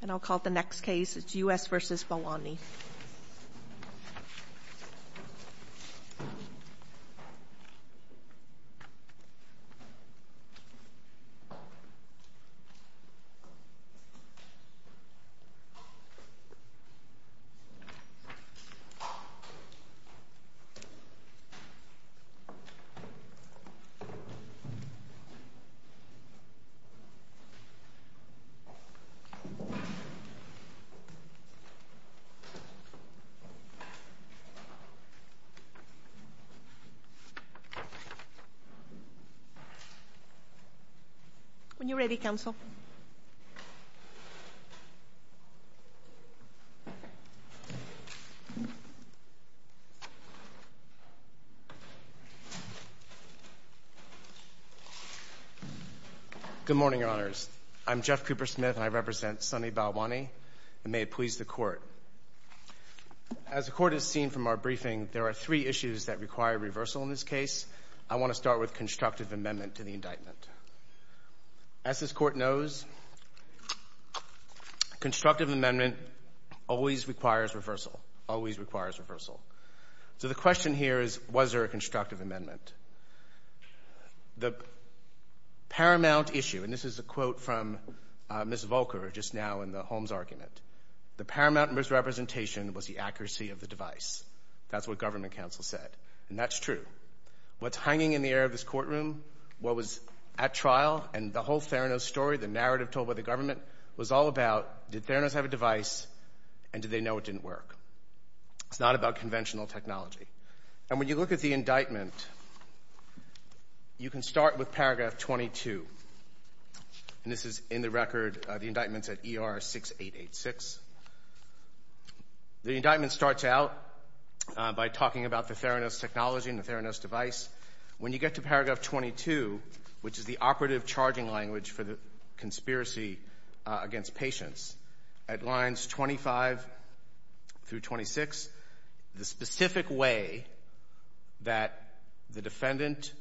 And I'll call the next case, it's U.S. v. Balwani. When you're ready, Counsel. Good morning, Your Honors. I'm Jeff Cooper Smith and I represent Sonny Balwani, and may it please the Court. As the Court has seen from our briefing, there are three issues that require reversal in this case. I want to start with constructive amendment to the indictment. As this Court knows, constructive amendment always requires reversal, always requires reversal. So the question here is, was there a constructive amendment? The paramount issue, and this is a quote from Ms. Volker just now in the Holmes argument, the paramount misrepresentation was the accuracy of the device. That's what Government Counsel said, and that's true. What's hanging in the air of this courtroom, what was at trial, and the whole Theranos story, the narrative told by the Government, was all about, did Theranos have a device, and did they know it didn't work? It's not about conventional technology. And when you look at the indictment, you can start with paragraph 22, and this is in the record of the indictments at ER-6886. The indictment starts out by talking about the Theranos technology and the Theranos device. When you get to paragraph 22, which is the operative charging language for the conspiracy against patients, at lines 25 through 26, the specific way that the defendant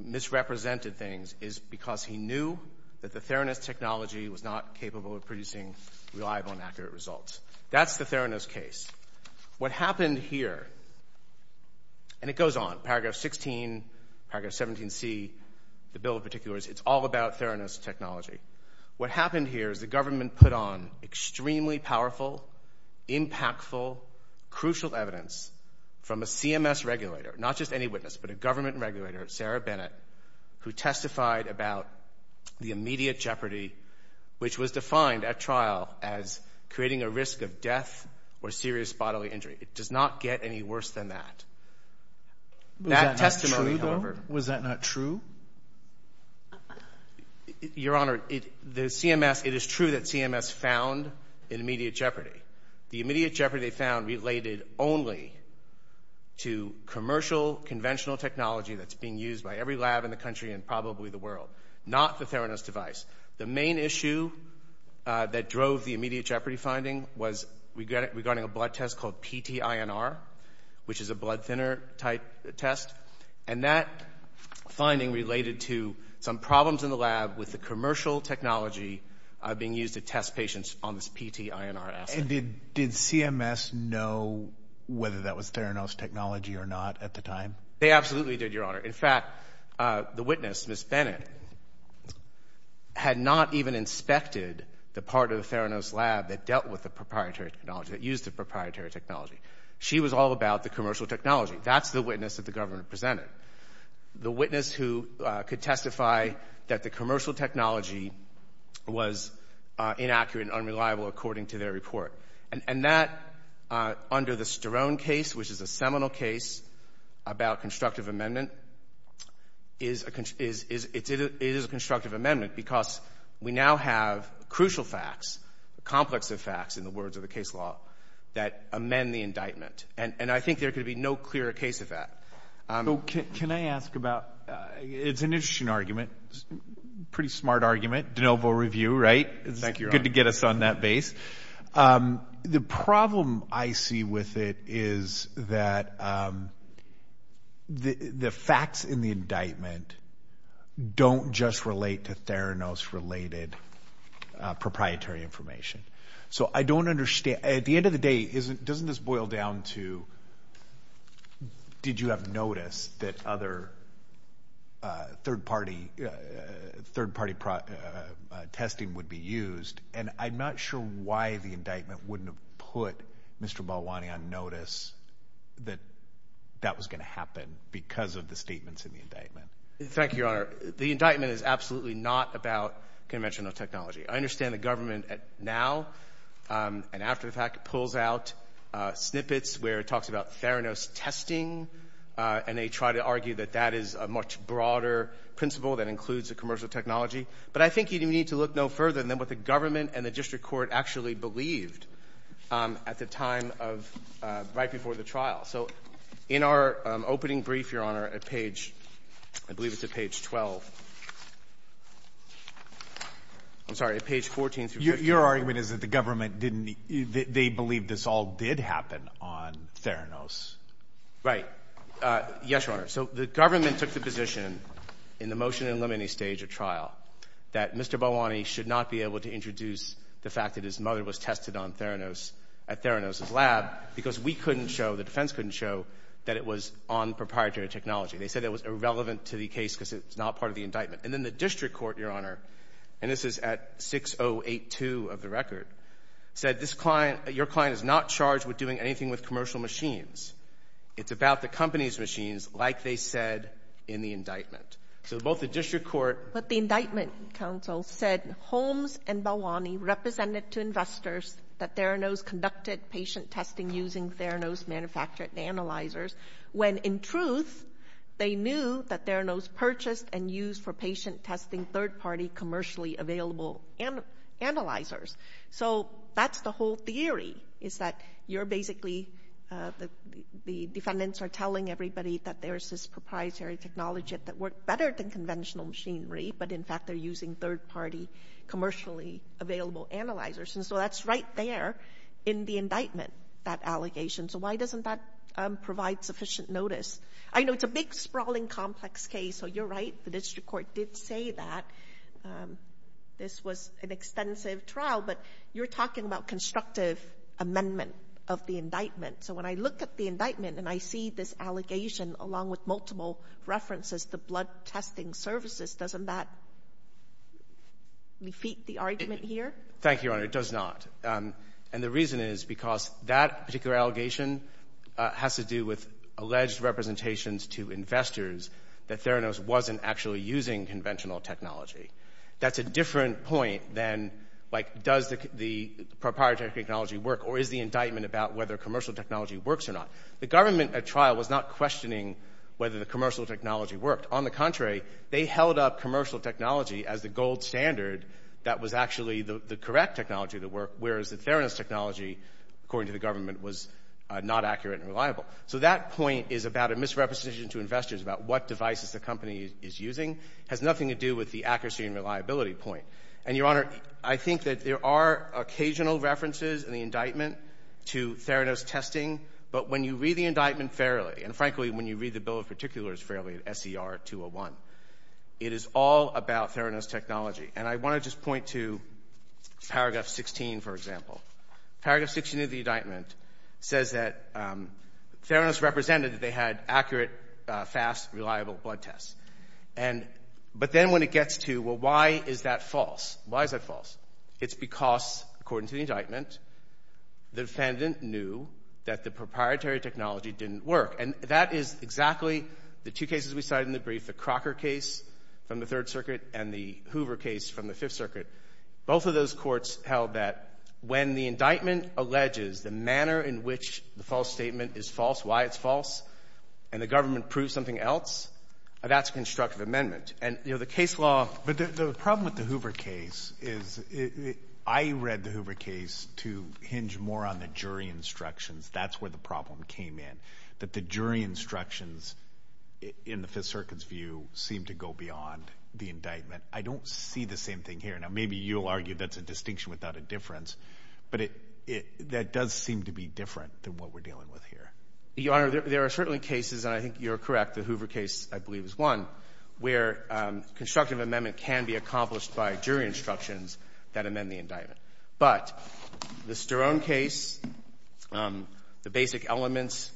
misrepresented things is because he knew that the Theranos technology was not capable of producing reliable and accurate results. That's the Theranos case. What happened here, and it goes on, paragraph 16, paragraph 17C, the bill in particular, it's all about Theranos technology. What happened here is the Government put on extremely powerful, impactful, crucial evidence from a CMS regulator, not just any witness, but a Government regulator, Sarah Bennett, who testified about the immediate jeopardy, which was defined at trial as creating a risk of death or serious bodily injury. It does not get any worse than that. That testimony, however... Was that not true, though? Was that not true? Your Honor, the CMS, it is true that CMS found an immediate jeopardy. The immediate jeopardy they found related only to commercial, conventional technology that's being used by every lab in the country and probably the world, not the Theranos device. The main issue that drove the immediate jeopardy finding was regarding a blood test called PTINR, which is a blood thinner type test, and that finding related to some problems in the lab with the commercial technology being used to test patients on this PTINR asset. And did CMS know whether that was Theranos technology or not at the time? They absolutely did, Your Honor. In fact, the witness, Ms. Bennett, had not even inspected the part of the Theranos lab that dealt with the proprietary technology, that used the proprietary technology. She was all about the commercial technology. That's the witness that the Government presented. The witness who could testify that the commercial technology was inaccurate and unreliable according to their report. And that, under the Sterone case, which is a seminal case about constructive amendment, is a constructive amendment because we now have crucial facts, complex facts in the words of the case law, that amend the indictment. And I think there could be no clearer case of that. Can I ask about, it's an interesting argument, pretty smart argument, de novo review, right? Thank you, Your Honor. Good to get us on that base. The problem I see with it is that the facts in the indictment don't just relate to Theranos-related proprietary information. So I don't understand, at the end of the day, doesn't this boil down to, did you have noticed that other third-party testing would be used? And I'm not sure why the indictment wouldn't have put Mr. Balwani on notice that that was going to happen because of the statements in the indictment. Thank you, Your Honor. The indictment is absolutely not about conventional technology. I understand the Government now, and after the fact, pulls out snippets where it talks about Theranos testing, and they try to argue that that is a much broader principle that includes the commercial technology. But I think you need to look no further than what the Government and the District Court actually believed at the time of, right before the trial. So in our opening brief, Your Honor, at page, I believe it's at page 12, I'm sorry, at page 14 through 15. Your argument is that the Government didn't, they believed this all did happen on Theranos. Right. Yes, Your Honor. So the Government took the position in the motion in limine stage of trial that Mr. Balwani should not be able to introduce the fact that his mother was tested on Theranos at Theranos's lab because we couldn't show, the defense couldn't show, that it was on proprietary technology. They said it was irrelevant to the case because it's not part of the indictment. And then the District Court, Your Honor, and this is at 6082 of the record, said this client, your client is not charged with doing anything with commercial machines. It's about the company's machines, like they said in the indictment. So both the District Court. But the indictment, counsel, said Holmes and Balwani represented to investors that Theranos conducted patient testing using Theranos manufactured analyzers, when in truth, they knew that Theranos purchased and used for patient testing third-party commercially available analyzers. So that's the whole theory, is that you're basically, the defendants are telling everybody that there's this proprietary technology that works better than conventional machinery, but in fact they're using third-party commercially available analyzers. And so that's right there in the indictment, that allegation. So why doesn't that provide sufficient notice? I know it's a big, sprawling, complex case. So you're right, the District Court did say that this was an extensive trial. But you're talking about constructive amendment of the indictment. So when I look at the indictment and I see this allegation along with multiple references to blood testing services, doesn't that defeat the argument here? Thank you, Your Honor. It does not. And the reason is because that particular allegation has to do with alleged representations to investors that Theranos wasn't actually using conventional technology. That's a different point than, like, does the proprietary technology work or is the indictment about whether commercial technology works or not? The government at trial was not questioning whether the commercial technology worked. On the contrary, they held up commercial technology as the gold standard that was actually the whereas the Theranos technology, according to the government, was not accurate and reliable. So that point is about a misrepresentation to investors about what devices the company is using. It has nothing to do with the accuracy and reliability point. And Your Honor, I think that there are occasional references in the indictment to Theranos testing. But when you read the indictment fairly, and frankly, when you read the bill in particular as fairly, SCR 201, it is all about Theranos technology. And I want to just point to paragraph 16, for example. Paragraph 16 of the indictment says that Theranos represented that they had accurate, fast, reliable blood tests. But then when it gets to, well, why is that false? Why is that false? It's because, according to the indictment, the defendant knew that the proprietary technology didn't work. And that is exactly the two cases we cited in the brief, the Crocker case from the Third Circuit and the Hoover case from the Fifth Circuit. Both of those courts held that when the indictment alleges the manner in which the false statement is false, why it's false, and the government proves something else, that's a constructive amendment. And, you know, the case law... But the problem with the Hoover case is, I read the Hoover case to hinge more on the jury instructions. That's where the problem came in, that the jury instructions in the Fifth Circuit's view seemed to go beyond the indictment. I don't see the same thing here. Now, maybe you'll argue that's a distinction without a difference, but that does seem to be different than what we're dealing with here. Your Honor, there are certainly cases, and I think you're correct, the Hoover case I believe is one, where constructive amendment can be accomplished by jury instructions that amend the indictment. But the Sterone case, the basic elements,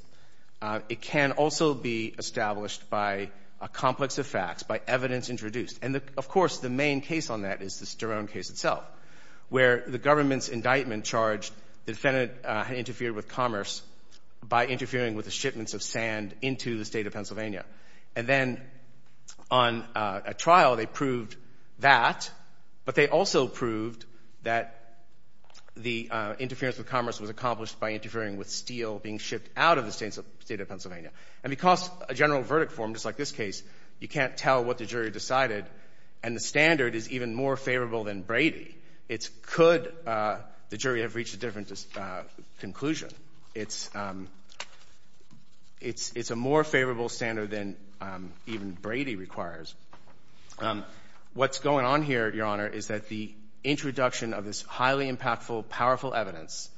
it can also be established by a complex of facts, by evidence introduced. And, of course, the main case on that is the Sterone case itself, where the government's indictment charged the defendant had interfered with commerce by interfering with the shipments of sand into the state of Pennsylvania. And then on a trial, they proved that, but they also proved that the interference with commerce was accomplished by interfering with steel being shipped out of the state of Pennsylvania. And because a general verdict form, just like this case, you can't tell what the jury decided, and the standard is even more favorable than Brady, it's could the jury have reached a different conclusion. It's a more favorable standard than even Brady requires. What's going on here, Your Honor, is that the introduction of this highly impactful, powerful evidence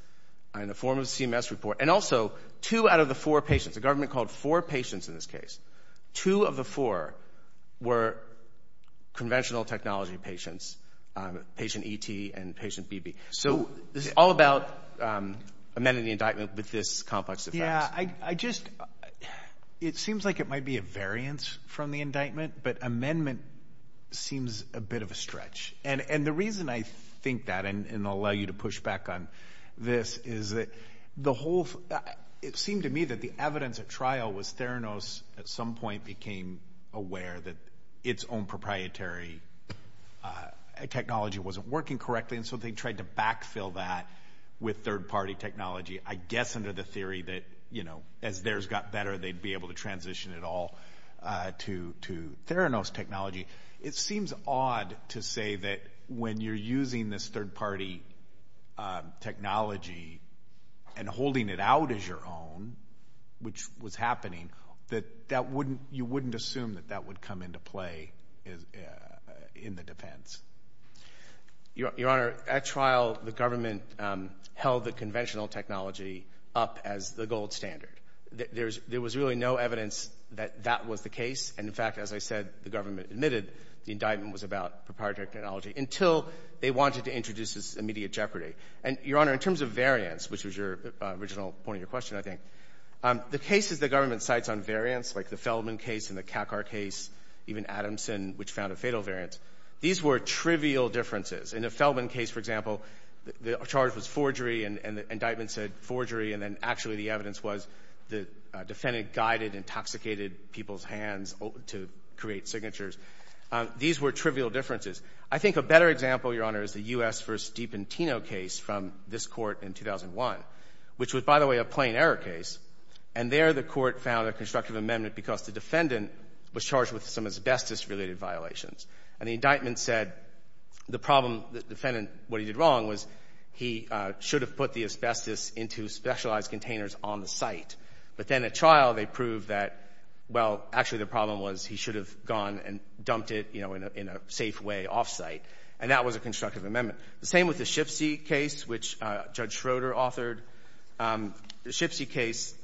in the form of a CMS report, and also two out of the four patients, a government called four patients in this case, two of the four were conventional technology patients, patient ET and patient BB. So this is all about amending the indictment with this complex of facts. It seems like it might be a variance from the indictment, but amendment seems a bit of a stretch. And the reason I think that, and I'll allow you to push back on this, is that the whole, it seemed to me that the evidence at trial was Theranos at some point became aware that its own proprietary technology wasn't working correctly, and so they tried to backfill that with third party technology. I guess under the theory that, you know, as theirs got better, they'd be able to transition it all to Theranos technology. It seems odd to say that when you're using this third party technology and holding it out as your own, which was happening, that you wouldn't assume that that would come into play in the defense. Your Honor, at trial, the government held the conventional technology up as the gold standard. There was really no evidence that that was the case, and in fact, as I said, the government admitted the indictment was about proprietary technology until they wanted to introduce this immediate jeopardy. And Your Honor, in terms of variance, which was your original point of your question, I think, the cases the government cites on variance, like the Feldman case and the Kakar case, even Adamson, which found a fatal variance, these were trivial differences. In the Feldman case, for example, the charge was forgery, and the indictment said forgery, and then actually the evidence was the defendant guided intoxicated people's hands to create signatures. These were trivial differences. I think a better example, Your Honor, is the U.S. v. Dipentino case from this court in 2001, which was, by the way, a plain error case. And there the court found a constructive amendment because the defendant was charged with some asbestos-related violations, and the indictment said the problem, the defendant, what he did wrong was he should have put the asbestos into specialized containers on the site. But then at trial, they proved that, well, actually, the problem was he should have gone and dumped it, you know, in a safe way off-site. And that was a constructive amendment. The same with the Schiffsee case, which Judge Schroeder authored. The Schiffsee case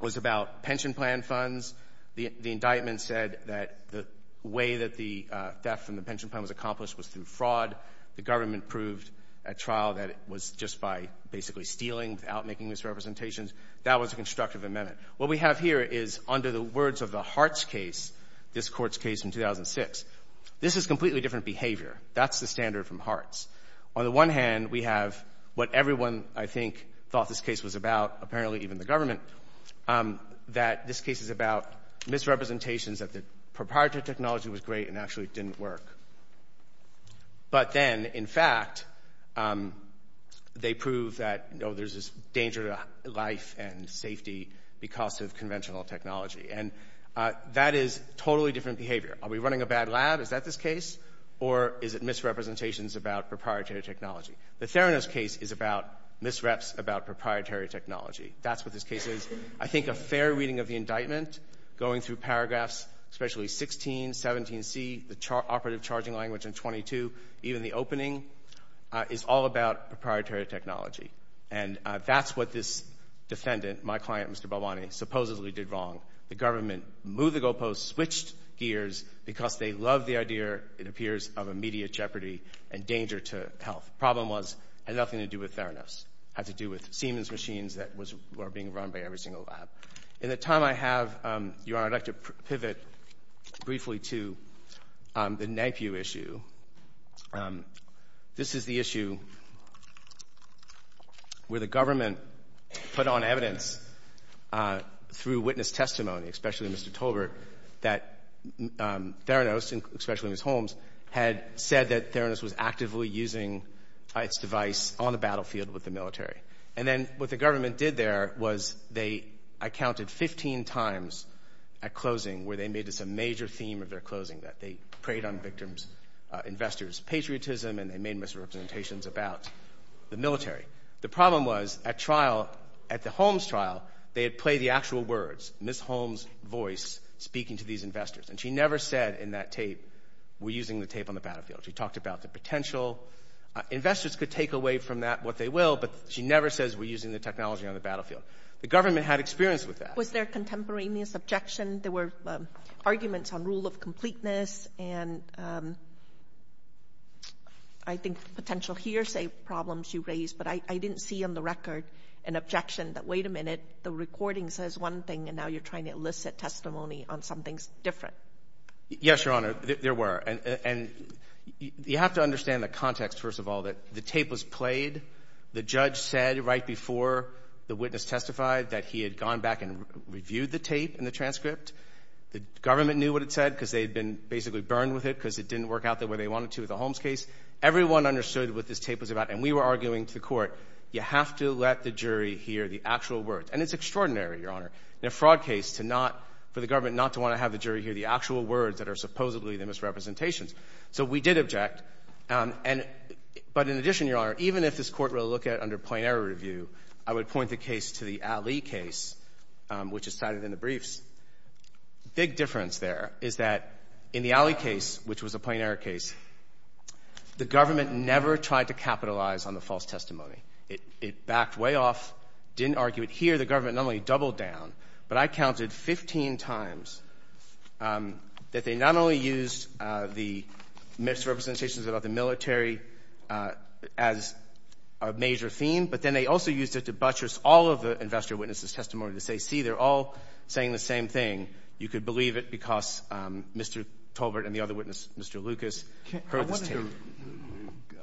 was about pension plan funds. The indictment said that the way that the theft from the pension plan was accomplished was through fraud. The government proved at trial that it was just by basically stealing without making misrepresentations. That was a constructive amendment. What we have here is, under the words of the Hartz case, this court's case in 2006, this is completely different behavior. That's the standard from Hartz. On the one hand, we have what everyone, I think, thought this case was about, apparently even the government, that this case is about misrepresentations, that the proprietary technology was great and actually didn't work. But then, in fact, they prove that, you know, there's this danger to life and safety because of conventional technology. And that is totally different behavior. Are we running a bad lab? Is that this case? Or is it misrepresentations about proprietary technology? The Theranos case is about misreps about proprietary technology. That's what this case is. I think a fair reading of the indictment, going through paragraphs, especially 16, 17c, the operative charging language in 22, even the opening, is all about proprietary technology. And that's what this defendant, my client, Mr. Balwani, supposedly did wrong. The government moved the goalposts, switched gears, because they love the idea, it appears, of immediate jeopardy and danger to health. Problem was, had nothing to do with Theranos. Had to do with Siemens machines that were being run by every single lab. In the time I have, Your Honor, I'd like to pivot briefly to the NAPU issue. This is the issue where the government put on evidence through witness testimony, especially Mr. Tolbert, that Theranos, especially Ms. Holmes, had said that Theranos was actively using its device on the battlefield with the military. And then what the government did there was they, I counted, 15 times at closing where they made this a major theme of their closing, that they preyed on victims' investors' patriotism and they made misrepresentations about the military. The problem was, at trial, at the Holmes trial, they had played the actual words, Ms. Holmes' voice speaking to these investors, and she never said in that tape, we're using the tape on the battlefield. She talked about the potential. Investors could take away from that what they will, but she never says we're using the technology on the battlefield. The government had experience with that. Was there contemporaneous objection? There were arguments on rule of completeness and I think potential hearsay problems you raised, but I didn't see on the record an objection that, wait a minute, the recording says one thing and now you're trying to elicit testimony on something different. Yes, Your Honor, there were. And you have to understand the context, first of all, that the tape was played, the judge said right before the witness testified that he had gone back and reviewed the tape and the transcript, the government knew what it said because they had been basically burned with it because it didn't work out the way they wanted to with the Holmes case. Everyone understood what this tape was about and we were arguing to the court, you have to let the jury hear the actual words. And it's extraordinary, Your Honor, in a fraud case to not, for the government not to want to have the jury hear the actual words that are supposedly the misrepresentations. So we did object. But in addition, Your Honor, even if this court will look at it under plain error review, I would point the case to the Alley case, which is cited in the briefs. Big difference there is that in the Alley case, which was a plain error case, the government never tried to capitalize on the false testimony. It backed way off, didn't argue it. But I counted 15 times that they not only used the misrepresentations about the military as a major theme, but then they also used it to buttress all of the investor witnesses' testimony to say, see, they're all saying the same thing. You could believe it because Mr. Tolbert and the other witness, Mr. Lucas, heard this tape.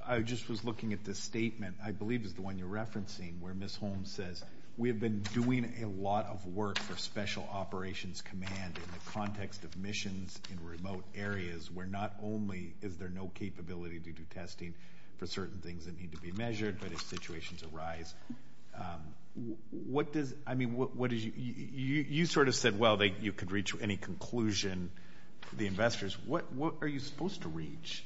I just was looking at this statement, I believe is the one you're referencing, where Ms. Holmes says, we have been doing a lot of work for Special Operations Command in the context of missions in remote areas, where not only is there no capability to do testing for certain things that need to be measured, but if situations arise, what does, I mean, what is, you sort of said, well, you could reach any conclusion, the investors, what are you supposed to reach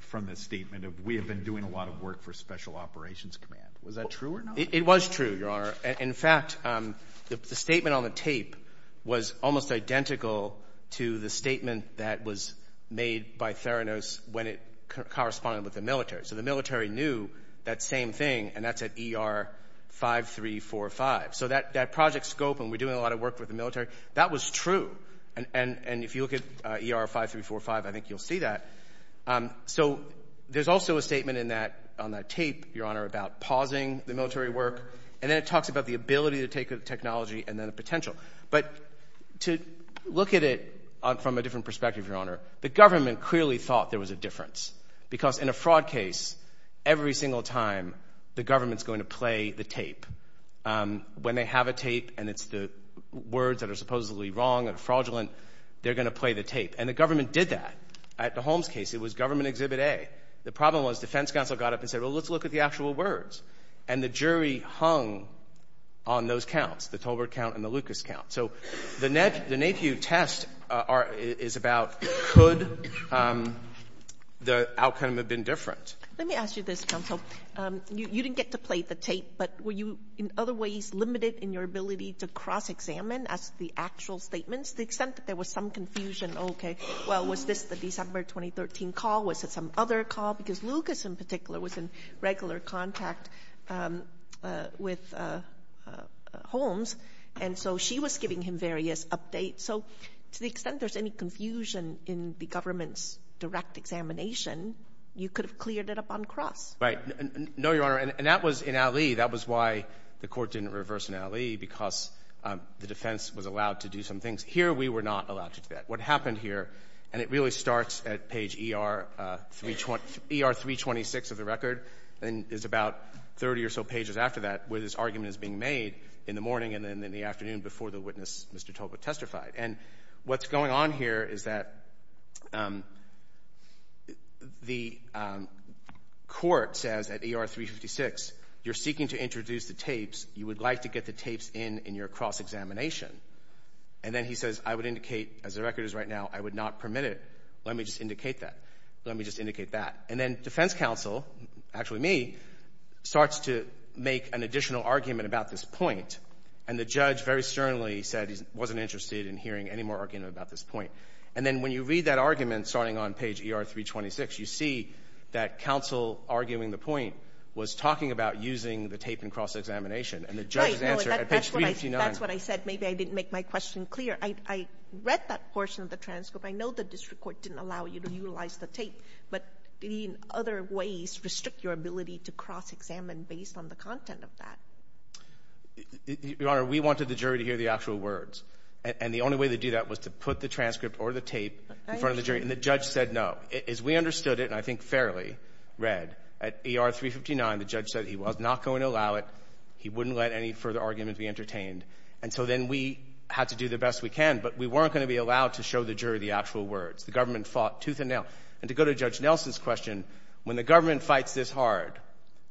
from this statement of we have been doing a lot of work for Special Operations Command? Was that true or not? It was true, Your Honor. In fact, the statement on the tape was almost identical to the statement that was made by Theranos when it corresponded with the military. So the military knew that same thing, and that's at ER-5345. So that project scope, and we're doing a lot of work with the military, that was true. And if you look at ER-5345, I think you'll see that. So there's also a statement in that, on that tape, Your Honor, about pausing the military work, and then it talks about the ability to take the technology and then the potential. But to look at it from a different perspective, Your Honor, the government clearly thought there was a difference, because in a fraud case, every single time, the government's going to play the tape. When they have a tape and it's the words that are supposedly wrong and fraudulent, they're going to play the tape. And the government did that. At the Holmes case, it was Government Exhibit A. The problem was, defense counsel got up and said, well, let's look at the actual words. And the jury hung on those counts, the Tolbert count and the Lucas count. So the NAPIU test is about could the outcome have been different. Let me ask you this, counsel. You didn't get to play the tape, but were you in other ways limited in your ability to cross-examine as to the actual statements, to the extent that there was some confusion? Okay. Well, was this the December 2013 call? Was it some other call? Because Lucas, in particular, was in regular contact with Holmes, and so she was giving him various updates. So to the extent there's any confusion in the government's direct examination, you could have cleared it up on cross. Right. No, Your Honor. And that was in Ali. That was why the court didn't reverse in Ali, because the defense was allowed to do some things. Here, we were not allowed to do that. What happened here, and it really starts at page ER-326 of the record, and it's about 30 or so pages after that where this argument is being made in the morning and then in the afternoon before the witness, Mr. Tolbert, testified. And what's going on here is that the court says at ER-356, you're seeking to introduce the tapes. You would like to get the tapes in in your cross-examination. And then he says, I would indicate, as the record is right now, I would not permit it. Let me just indicate that. Let me just indicate that. And then defense counsel, actually me, starts to make an additional argument about this point, and the judge very sternly said he wasn't interested in hearing any more argument about this point. And then when you read that argument starting on page ER-326, you see that counsel arguing the point was talking about using the tape in cross-examination, and the judge's answer at page 359. But that's what I said. Maybe I didn't make my question clear. I read that portion of the transcript. I know the district court didn't allow you to utilize the tape, but did he in other ways restrict your ability to cross-examine based on the content of that? Your Honor, we wanted the jury to hear the actual words, and the only way to do that was to put the transcript or the tape in front of the jury, and the judge said no. As we understood it, and I think fairly read, at ER-359, the judge said he was not going to allow it. He wouldn't let any further argument be entertained. And so then we had to do the best we can, but we weren't going to be allowed to show the jury the actual words. The government fought tooth and nail. And to go to Judge Nelson's question, when the government fights this hard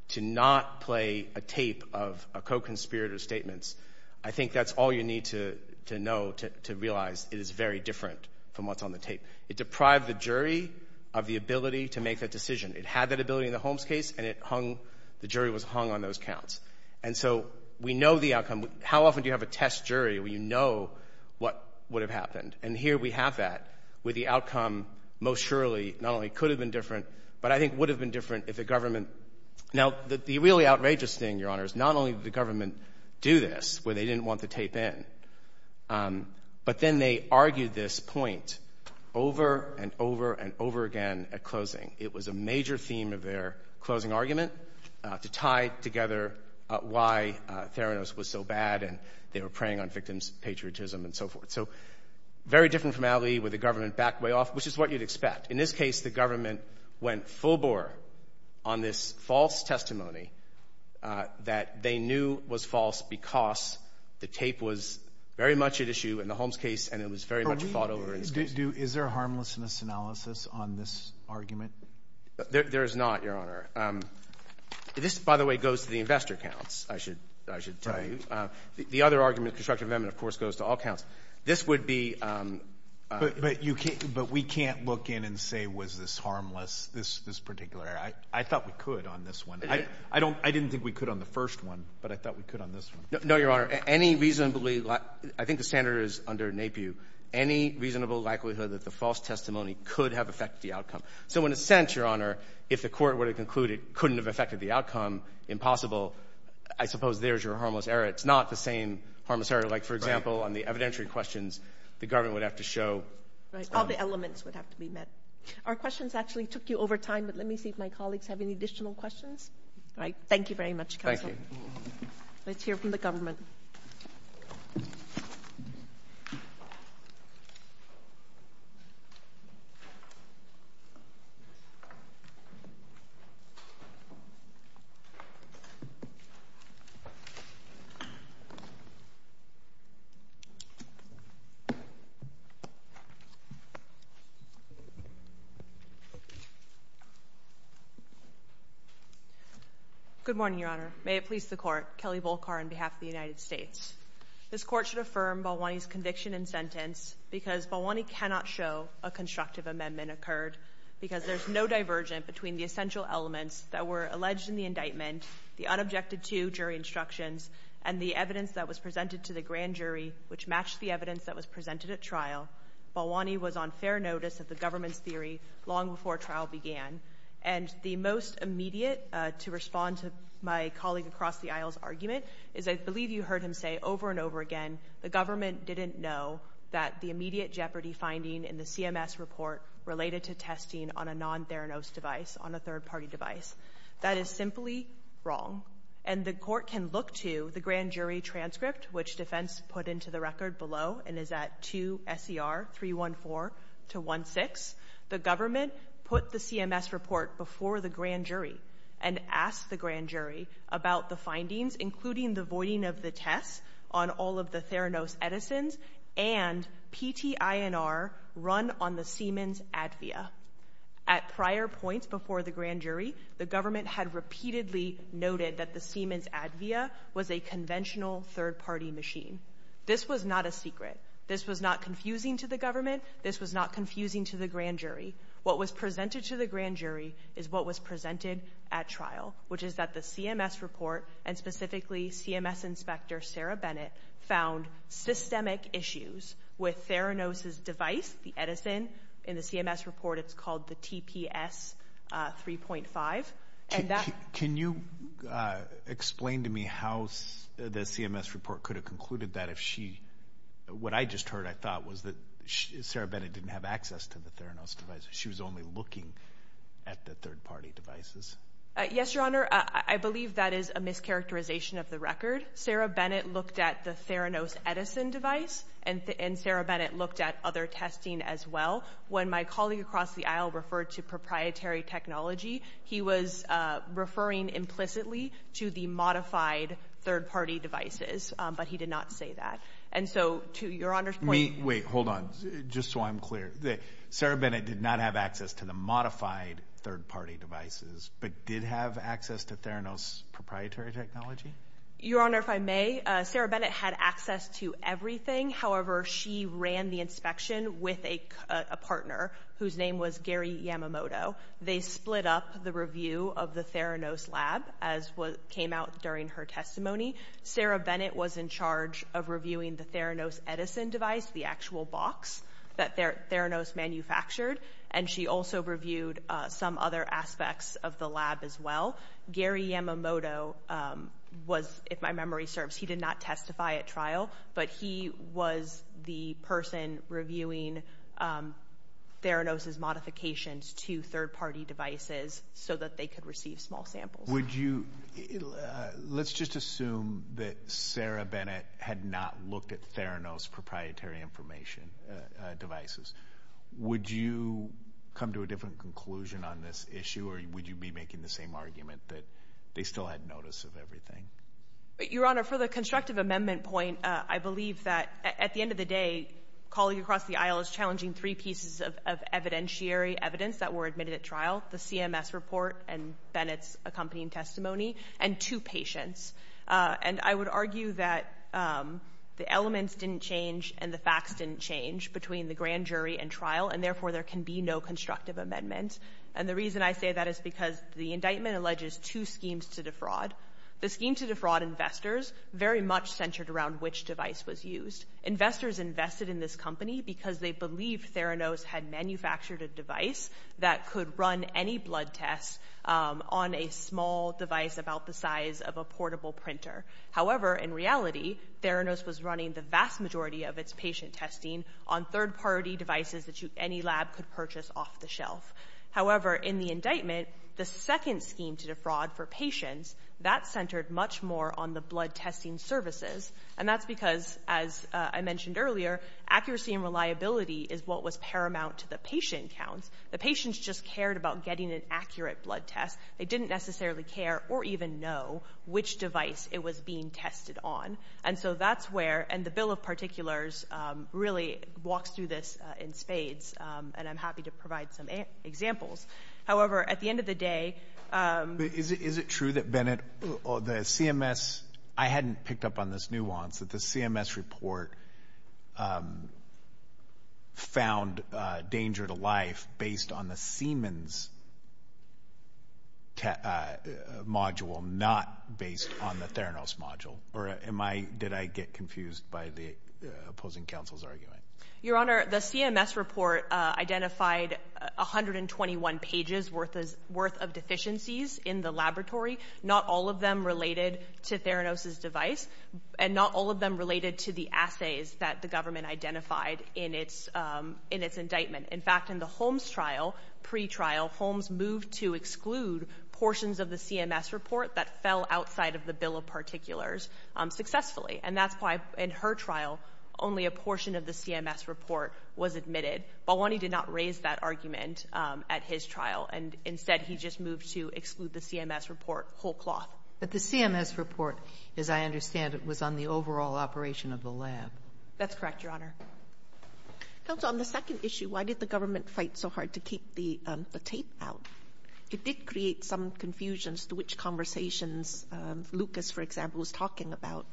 to not play a tape of a co-conspirator's statements, I think that's all you need to know to realize it is very different from what's on the tape. It deprived the jury of the ability to make that decision. It had that ability in the Holmes case, and it hung, the jury was hung on those counts. And so we know the outcome. How often do you have a test jury where you know what would have happened? And here we have that, where the outcome most surely not only could have been different, but I think would have been different if the government, now the really outrageous thing, Your Honor, is not only did the government do this, where they didn't want the tape in, but then they argued this point over and over and over again at closing. It was a major theme of their closing argument to tie together why Theranos was so bad, and they were preying on victims' patriotism and so forth. So very different formality with the government backed way off, which is what you'd expect. In this case, the government went full bore on this false testimony that they knew was false because the tape was very much at issue in the Holmes case, and it was very much fought over in this case. What do you do? Is there a harmlessness analysis on this argument? There is not, Your Honor. This, by the way, goes to the investor counts, I should tell you. The other argument, constructive amendment, of course, goes to all counts. This would be — But we can't look in and say, was this harmless, this particular. I thought we could on this one. I didn't think we could on the first one, but I thought we could on this one. No, Your Honor. I think the standard is under NAPIU. Any reasonable likelihood that the false testimony could have affected the outcome. So in a sense, Your Honor, if the court were to conclude it couldn't have affected the outcome, impossible, I suppose there's your harmless error. It's not the same harmless error. Like for example, on the evidentiary questions, the government would have to show — Right. All the elements would have to be met. Our questions actually took you over time, but let me see if my colleagues have any additional questions. All right. Thank you very much, Counsel. Thank you. Let's hear from the government. Good morning, Your Honor. May it please the Court. Kelly Volkar on behalf of the United States. This Court should affirm Balwani's conviction and sentence because Balwani cannot show a constructive amendment occurred because there's no divergent between the essential elements that were alleged in the indictment, the unobjected to jury instructions, and the evidence that was presented to the grand jury, which matched the evidence that was presented at trial. Balwani was on fair notice of the government's theory long before trial began. And the most immediate to respond to my colleague across the aisle's argument is, I believe you heard him say over and over again, the government didn't know that the immediate jeopardy finding in the CMS report related to testing on a non-fair notice device, on a third-party device. That is simply wrong. And the Court can look to the grand jury transcript, which defense put into the record below and is at 2 S.E.R. 314 to 16. The government put the CMS report before the grand jury and asked the grand jury about the findings, including the voiding of the tests on all of the Theranos Edison's and PTINR run on the Siemens Advia. At prior points before the grand jury, the government had repeatedly noted that the Siemens Advia was a conventional third-party machine. This was not a secret. This was not confusing to the government. This was not confusing to the grand jury. What was presented to the grand jury is what was presented at trial, which is that the CMS report and specifically CMS inspector Sarah Bennett found systemic issues with Theranos's device, the Edison. In the CMS report, it's called the TPS 3.5. Can you explain to me how the CMS report could have concluded that if she, what I just heard I thought was that Sarah Bennett didn't have access to the Theranos device. She was only looking at the third-party devices. Yes, Your Honor. I believe that is a mischaracterization of the record. Sarah Bennett looked at the Theranos Edison device and Sarah Bennett looked at other testing as well. When my colleague across the aisle referred to proprietary technology, he was referring implicitly to the modified third-party devices, but he did not say that. And so, to Your Honor's point— Wait, hold on. Just so I'm clear. Sarah Bennett did not have access to the modified third-party devices, but did have access to Theranos proprietary technology? Your Honor, if I may, Sarah Bennett had access to everything. However, she ran the inspection with a partner whose name was Gary Yamamoto. They split up the review of the Theranos lab, as came out during her testimony. Sarah Bennett was in charge of reviewing the Theranos Edison device, the actual box that Theranos manufactured, and she also reviewed some other aspects of the lab as well. Gary Yamamoto was, if my memory serves, he did not testify at trial, but he was the person reviewing Theranos's modifications to third-party devices so that they could receive small samples. Would you—let's just assume that Sarah Bennett had not looked at Theranos proprietary information devices. Would you come to a different conclusion on this issue, or would you be making the same argument that they still had notice of everything? Your Honor, for the constructive amendment point, I believe that, at the end of the day, calling across the aisle is challenging three pieces of evidentiary evidence that were admitted at trial, the CMS report and Bennett's accompanying testimony, and two patients. And I would argue that the elements didn't change and the facts didn't change between the grand jury and trial, and therefore there can be no constructive amendment. And the reason I say that is because the indictment alleges two schemes to defraud. The scheme to defraud investors very much centered around which device was used. Investors invested in this company because they believed Theranos had manufactured a device that could run any blood test on a small device about the size of a portable printer. However, in reality, Theranos was running the vast majority of its patient testing on third-party devices that any lab could purchase off the shelf. However, in the indictment, the second scheme to defraud for patients, that centered much more on the blood testing services, and that's because, as I mentioned earlier, accuracy and reliability is what was paramount to the patient counts. The patients just cared about getting an accurate blood test. They didn't necessarily care or even know which device it was being tested on. And so that's where, and the Bill of Particulars really walks through this in spades, and I'm happy to provide some examples. However, at the end of the day... Is it true that Bennett, the CMS, I hadn't picked up on this nuance, that the CMS report found danger to life based on the Siemens module, not based on the Theranos module? Or did I get confused by the opposing counsel's argument? Your Honor, the CMS report identified 121 pages worth of deficiencies in the laboratory, not all of them related to Theranos' device, and not all of them related to the assays that the government identified in its indictment. In fact, in the Holmes trial, pre-trial, Holmes moved to exclude portions of the CMS report that fell outside of the Bill of Particulars successfully. And that's why, in her trial, only a portion of the CMS report was admitted. Balwani did not raise that argument at his trial, and instead he just moved to exclude the CMS report whole cloth. But the CMS report, as I understand it, was on the overall operation of the lab. That's correct, Your Honor. Counsel, on the second issue, why did the government fight so hard to keep the tape out? It did create some confusions to which conversations Lucas, for example, was talking about.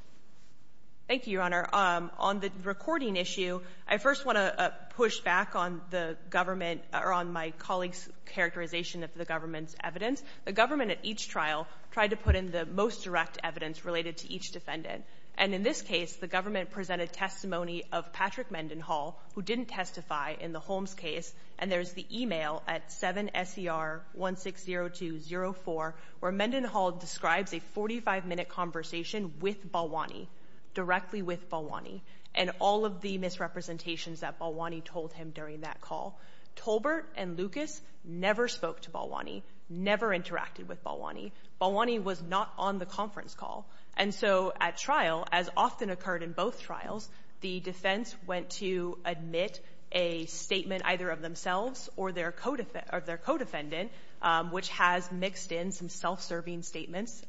Thank you, Your Honor. On the recording issue, I first want to push back on the government, or on my colleague's characterization of the government's evidence. The government, at each trial, tried to put in the most direct evidence related to each defendant. And in this case, the government presented testimony of Patrick Mendenhall, who didn't testify in the Holmes case, and there's the email at 7SER160204, where Mendenhall describes a 45-minute conversation with Balwani, directly with Balwani, and all of the misrepresentations that Balwani told him during that call. Tolbert and Lucas never spoke to Balwani, never interacted with Balwani. Balwani was not on the conference call. And so, at trial, as often occurred in both trials, the defense went to admit a statement either of themselves or their co-defendant, which has mixed in some self-serving statements,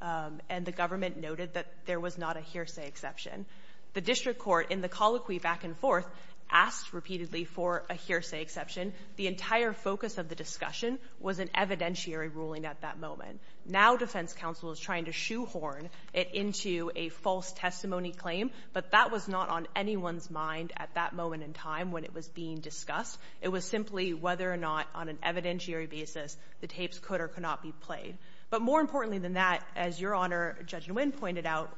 and the government noted that there was not a hearsay exception. The district court, in the colloquy back and forth, asked repeatedly for a hearsay exception. The entire focus of the discussion was an evidentiary ruling at that moment. Now defense counsel is trying to shoehorn it into a false testimony claim, but that was not on anyone's mind at that moment in time when it was being discussed. It was simply whether or not, on an evidentiary basis, the tapes could or could not be played. But more importantly than that, as Your Honor, Judge Nguyen pointed out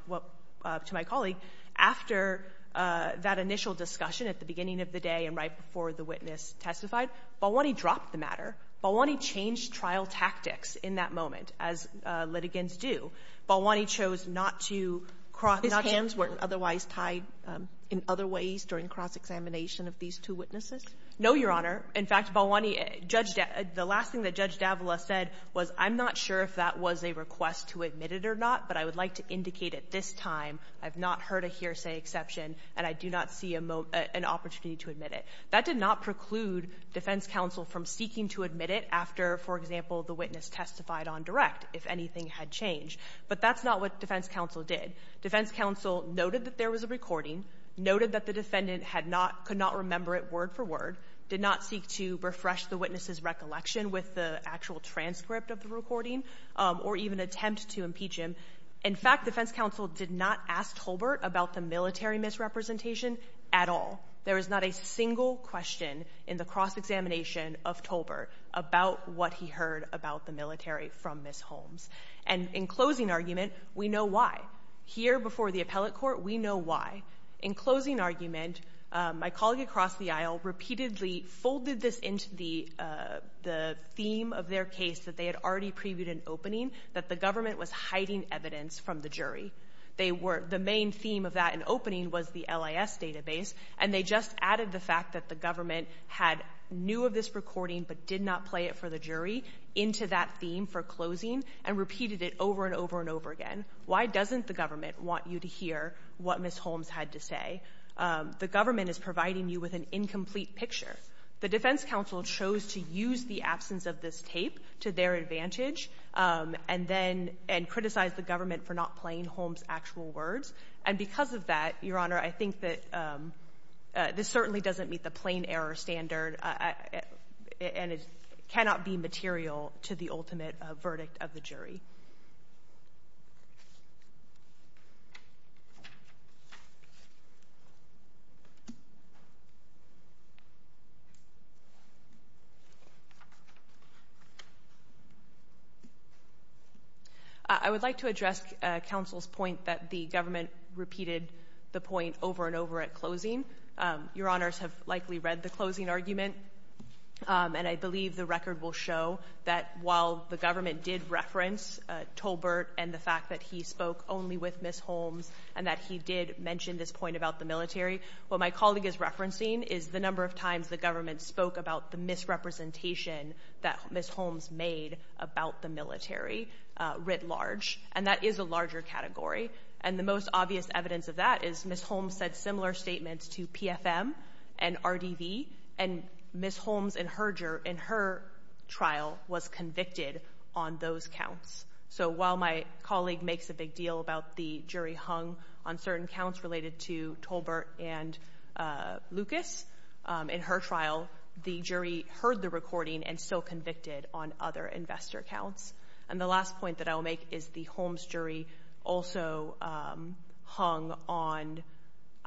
to my colleague, after that initial discussion at the beginning of the day and right before the witness testified, Balwani dropped the matter. Balwani changed trial tactics in that moment, as litigants do. Balwani chose not to cross- His hands weren't otherwise tied in other ways during cross-examination of these two witnesses? No, Your Honor. In fact, Balwani, the last thing that Judge Davila said was, I'm not sure if that was a request to admit it or not, but I would like to indicate at this time I've not heard a hearsay exception and I do not see an opportunity to admit it. That did not preclude defense counsel from seeking to admit it after, for example, the witness testified on direct, if anything had changed. But that's not what defense counsel did. Defense counsel noted that there was a recording, noted that the defendant could not remember it word for word, did not seek to refresh the witness's recollection with the actual transcript of the recording, or even attempt to impeach him. In fact, defense counsel did not ask Tolbert about the military misrepresentation at all. There is not a single question in the cross-examination of Tolbert about what he heard about the military from Ms. Holmes. And in closing argument, we know why. Here before the appellate court, we know why. In closing argument, my colleague across the aisle repeatedly folded this into the theme of their case that they had already previewed in opening, that the government was hiding evidence from the jury. They were, the main theme of that in opening was the LIS database, and they just added the fact that the government had, knew of this recording but did not play it for the jury into that theme for closing, and repeated it over and over and over again. Why doesn't the government want you to hear what Ms. Holmes had to say? The government is providing you with an incomplete picture. The defense counsel chose to use the absence of this tape to their advantage, and then, and criticize the government for not playing Holmes' actual words. And because of that, Your Honor, I think that this certainly doesn't meet the plain error standard and it cannot be material to the ultimate verdict of the jury. Thank you. I would like to address counsel's point that the government repeated the point over and over at closing. Your Honors have likely read the closing argument, and I believe the record will show that while the government did reference Tolbert and the fact that he spoke only with Ms. Holmes, and that he did mention this point about the military, what my colleague is referencing is the number of times the government spoke about the misrepresentation that Ms. Holmes made about the military, writ large, and that is a larger category. And the most obvious evidence of that is Ms. Holmes said similar statements to PFM and counts. So while my colleague makes a big deal about the jury hung on certain counts related to Tolbert and Lucas, in her trial, the jury heard the recording and still convicted on other investor counts. And the last point that I will make is the Holmes jury also hung on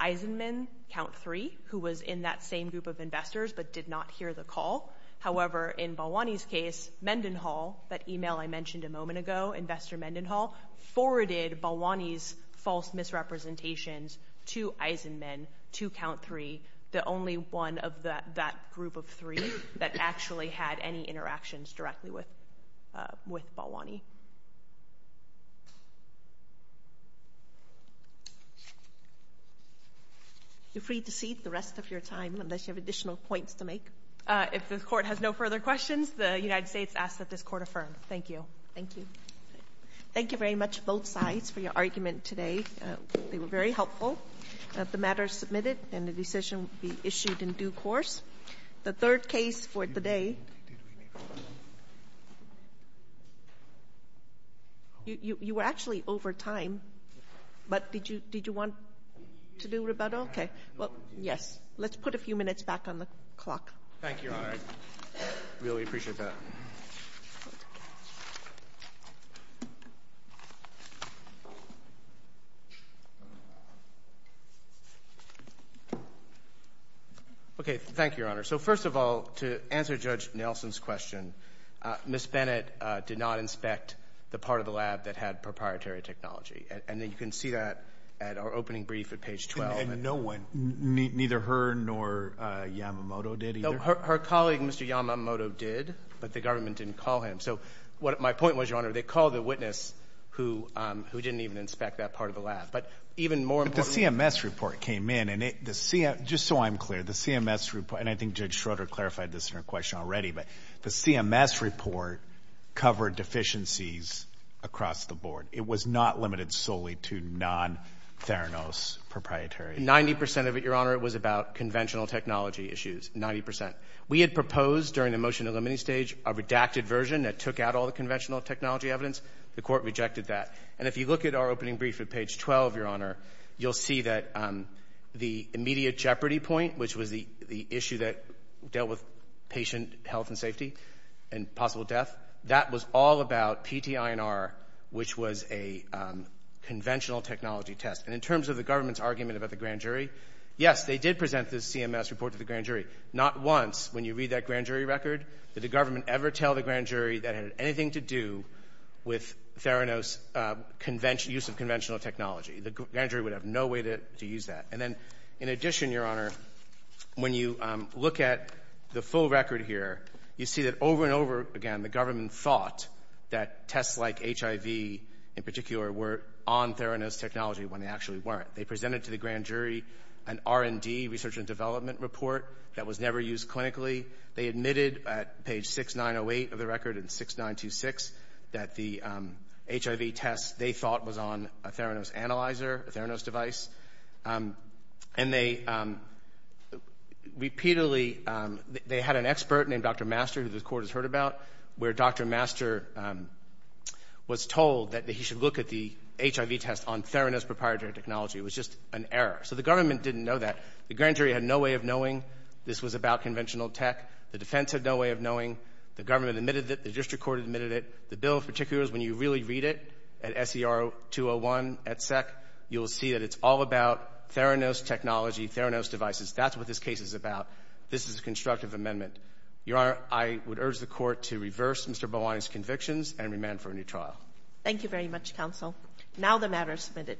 Eisenman, count three, who was in that same group of investors but did not hear the call. However, in Balwani's case, Mendenhall, that email I mentioned a moment ago, investor Mendenhall, forwarded Balwani's false misrepresentations to Eisenman, to count three, the only one of that group of three that actually had any interactions directly with Balwani. You're free to cede the rest of your time unless you have additional points to make. If the court has no further questions, the United States asks that this court affirm. Thank you. Thank you. Thank you very much, both sides, for your argument today. They were very helpful. The matter is submitted and the decision will be issued in due course. The third case for the day, you were actually over time, but did you want to do rebuttal? Yes. Let's put a few minutes back on the clock. Thank you, Your Honor. I really appreciate that. Okay. Thank you, Your Honor. First of all, to answer Judge Nelson's question, Ms. Bennett did not inspect the part of the lab that had proprietary technology. You can see that at our opening brief at page 12. Neither her nor Yamamoto did either? Her colleague, Mr. Yamamoto, did, but the government didn't call him. My point was, Your Honor, they called the witness who didn't even inspect that part of the lab. The CMS report came in. Just so I'm clear, the CMS report, and I think Judge Schroeder clarified this in her question already, but the CMS report covered deficiencies across the board. It was not limited solely to non-Theranos proprietary. Ninety percent of it, Your Honor, was about conventional technology issues. Ninety percent. We had proposed during the motion to eliminate stage a redacted version that took out all the conventional technology evidence. The court rejected that. And if you look at our opening brief at page 12, Your Honor, you'll see that the immediate jeopardy point, which was the issue that dealt with patient health and safety and possible death, that was all about PTINR, which was a conventional technology test. And in terms of the government's argument about the grand jury, yes, they did present this CMS report to the grand jury. Not once, when you read that grand jury record, did the government ever tell the grand jury that it had anything to do with Theranos use of conventional technology. The grand jury would have no way to use that. And then, in addition, Your Honor, when you look at the full record here, you see that over and over again, the government thought that tests like HIV, in particular, were on Theranos technology when they actually weren't. They presented to the grand jury an R&D, research and development report, that was never used clinically. They admitted at page 6908 of the record and 6926 that the HIV test, they thought, was on a Theranos analyzer, a Theranos device. And they repeatedly, they had an expert named Dr. Master, who this Court has heard about, where Dr. Master was told that he should look at the HIV test on Theranos proprietary technology. It was just an error. So the government didn't know that. The grand jury had no way of knowing this was about conventional tech. The defense had no way of knowing. The government admitted it. The district court admitted it. The bill, in particular, is when you really read it at SCR 201 at SEC, you will see that it's all about Theranos technology, Theranos devices. That's what this case is about. This is a constructive amendment. Your Honor, I would urge the Court to reverse Mr. Bowen's convictions and remand for a new trial. Thank you very much, Counsel. Now the matter is submitted.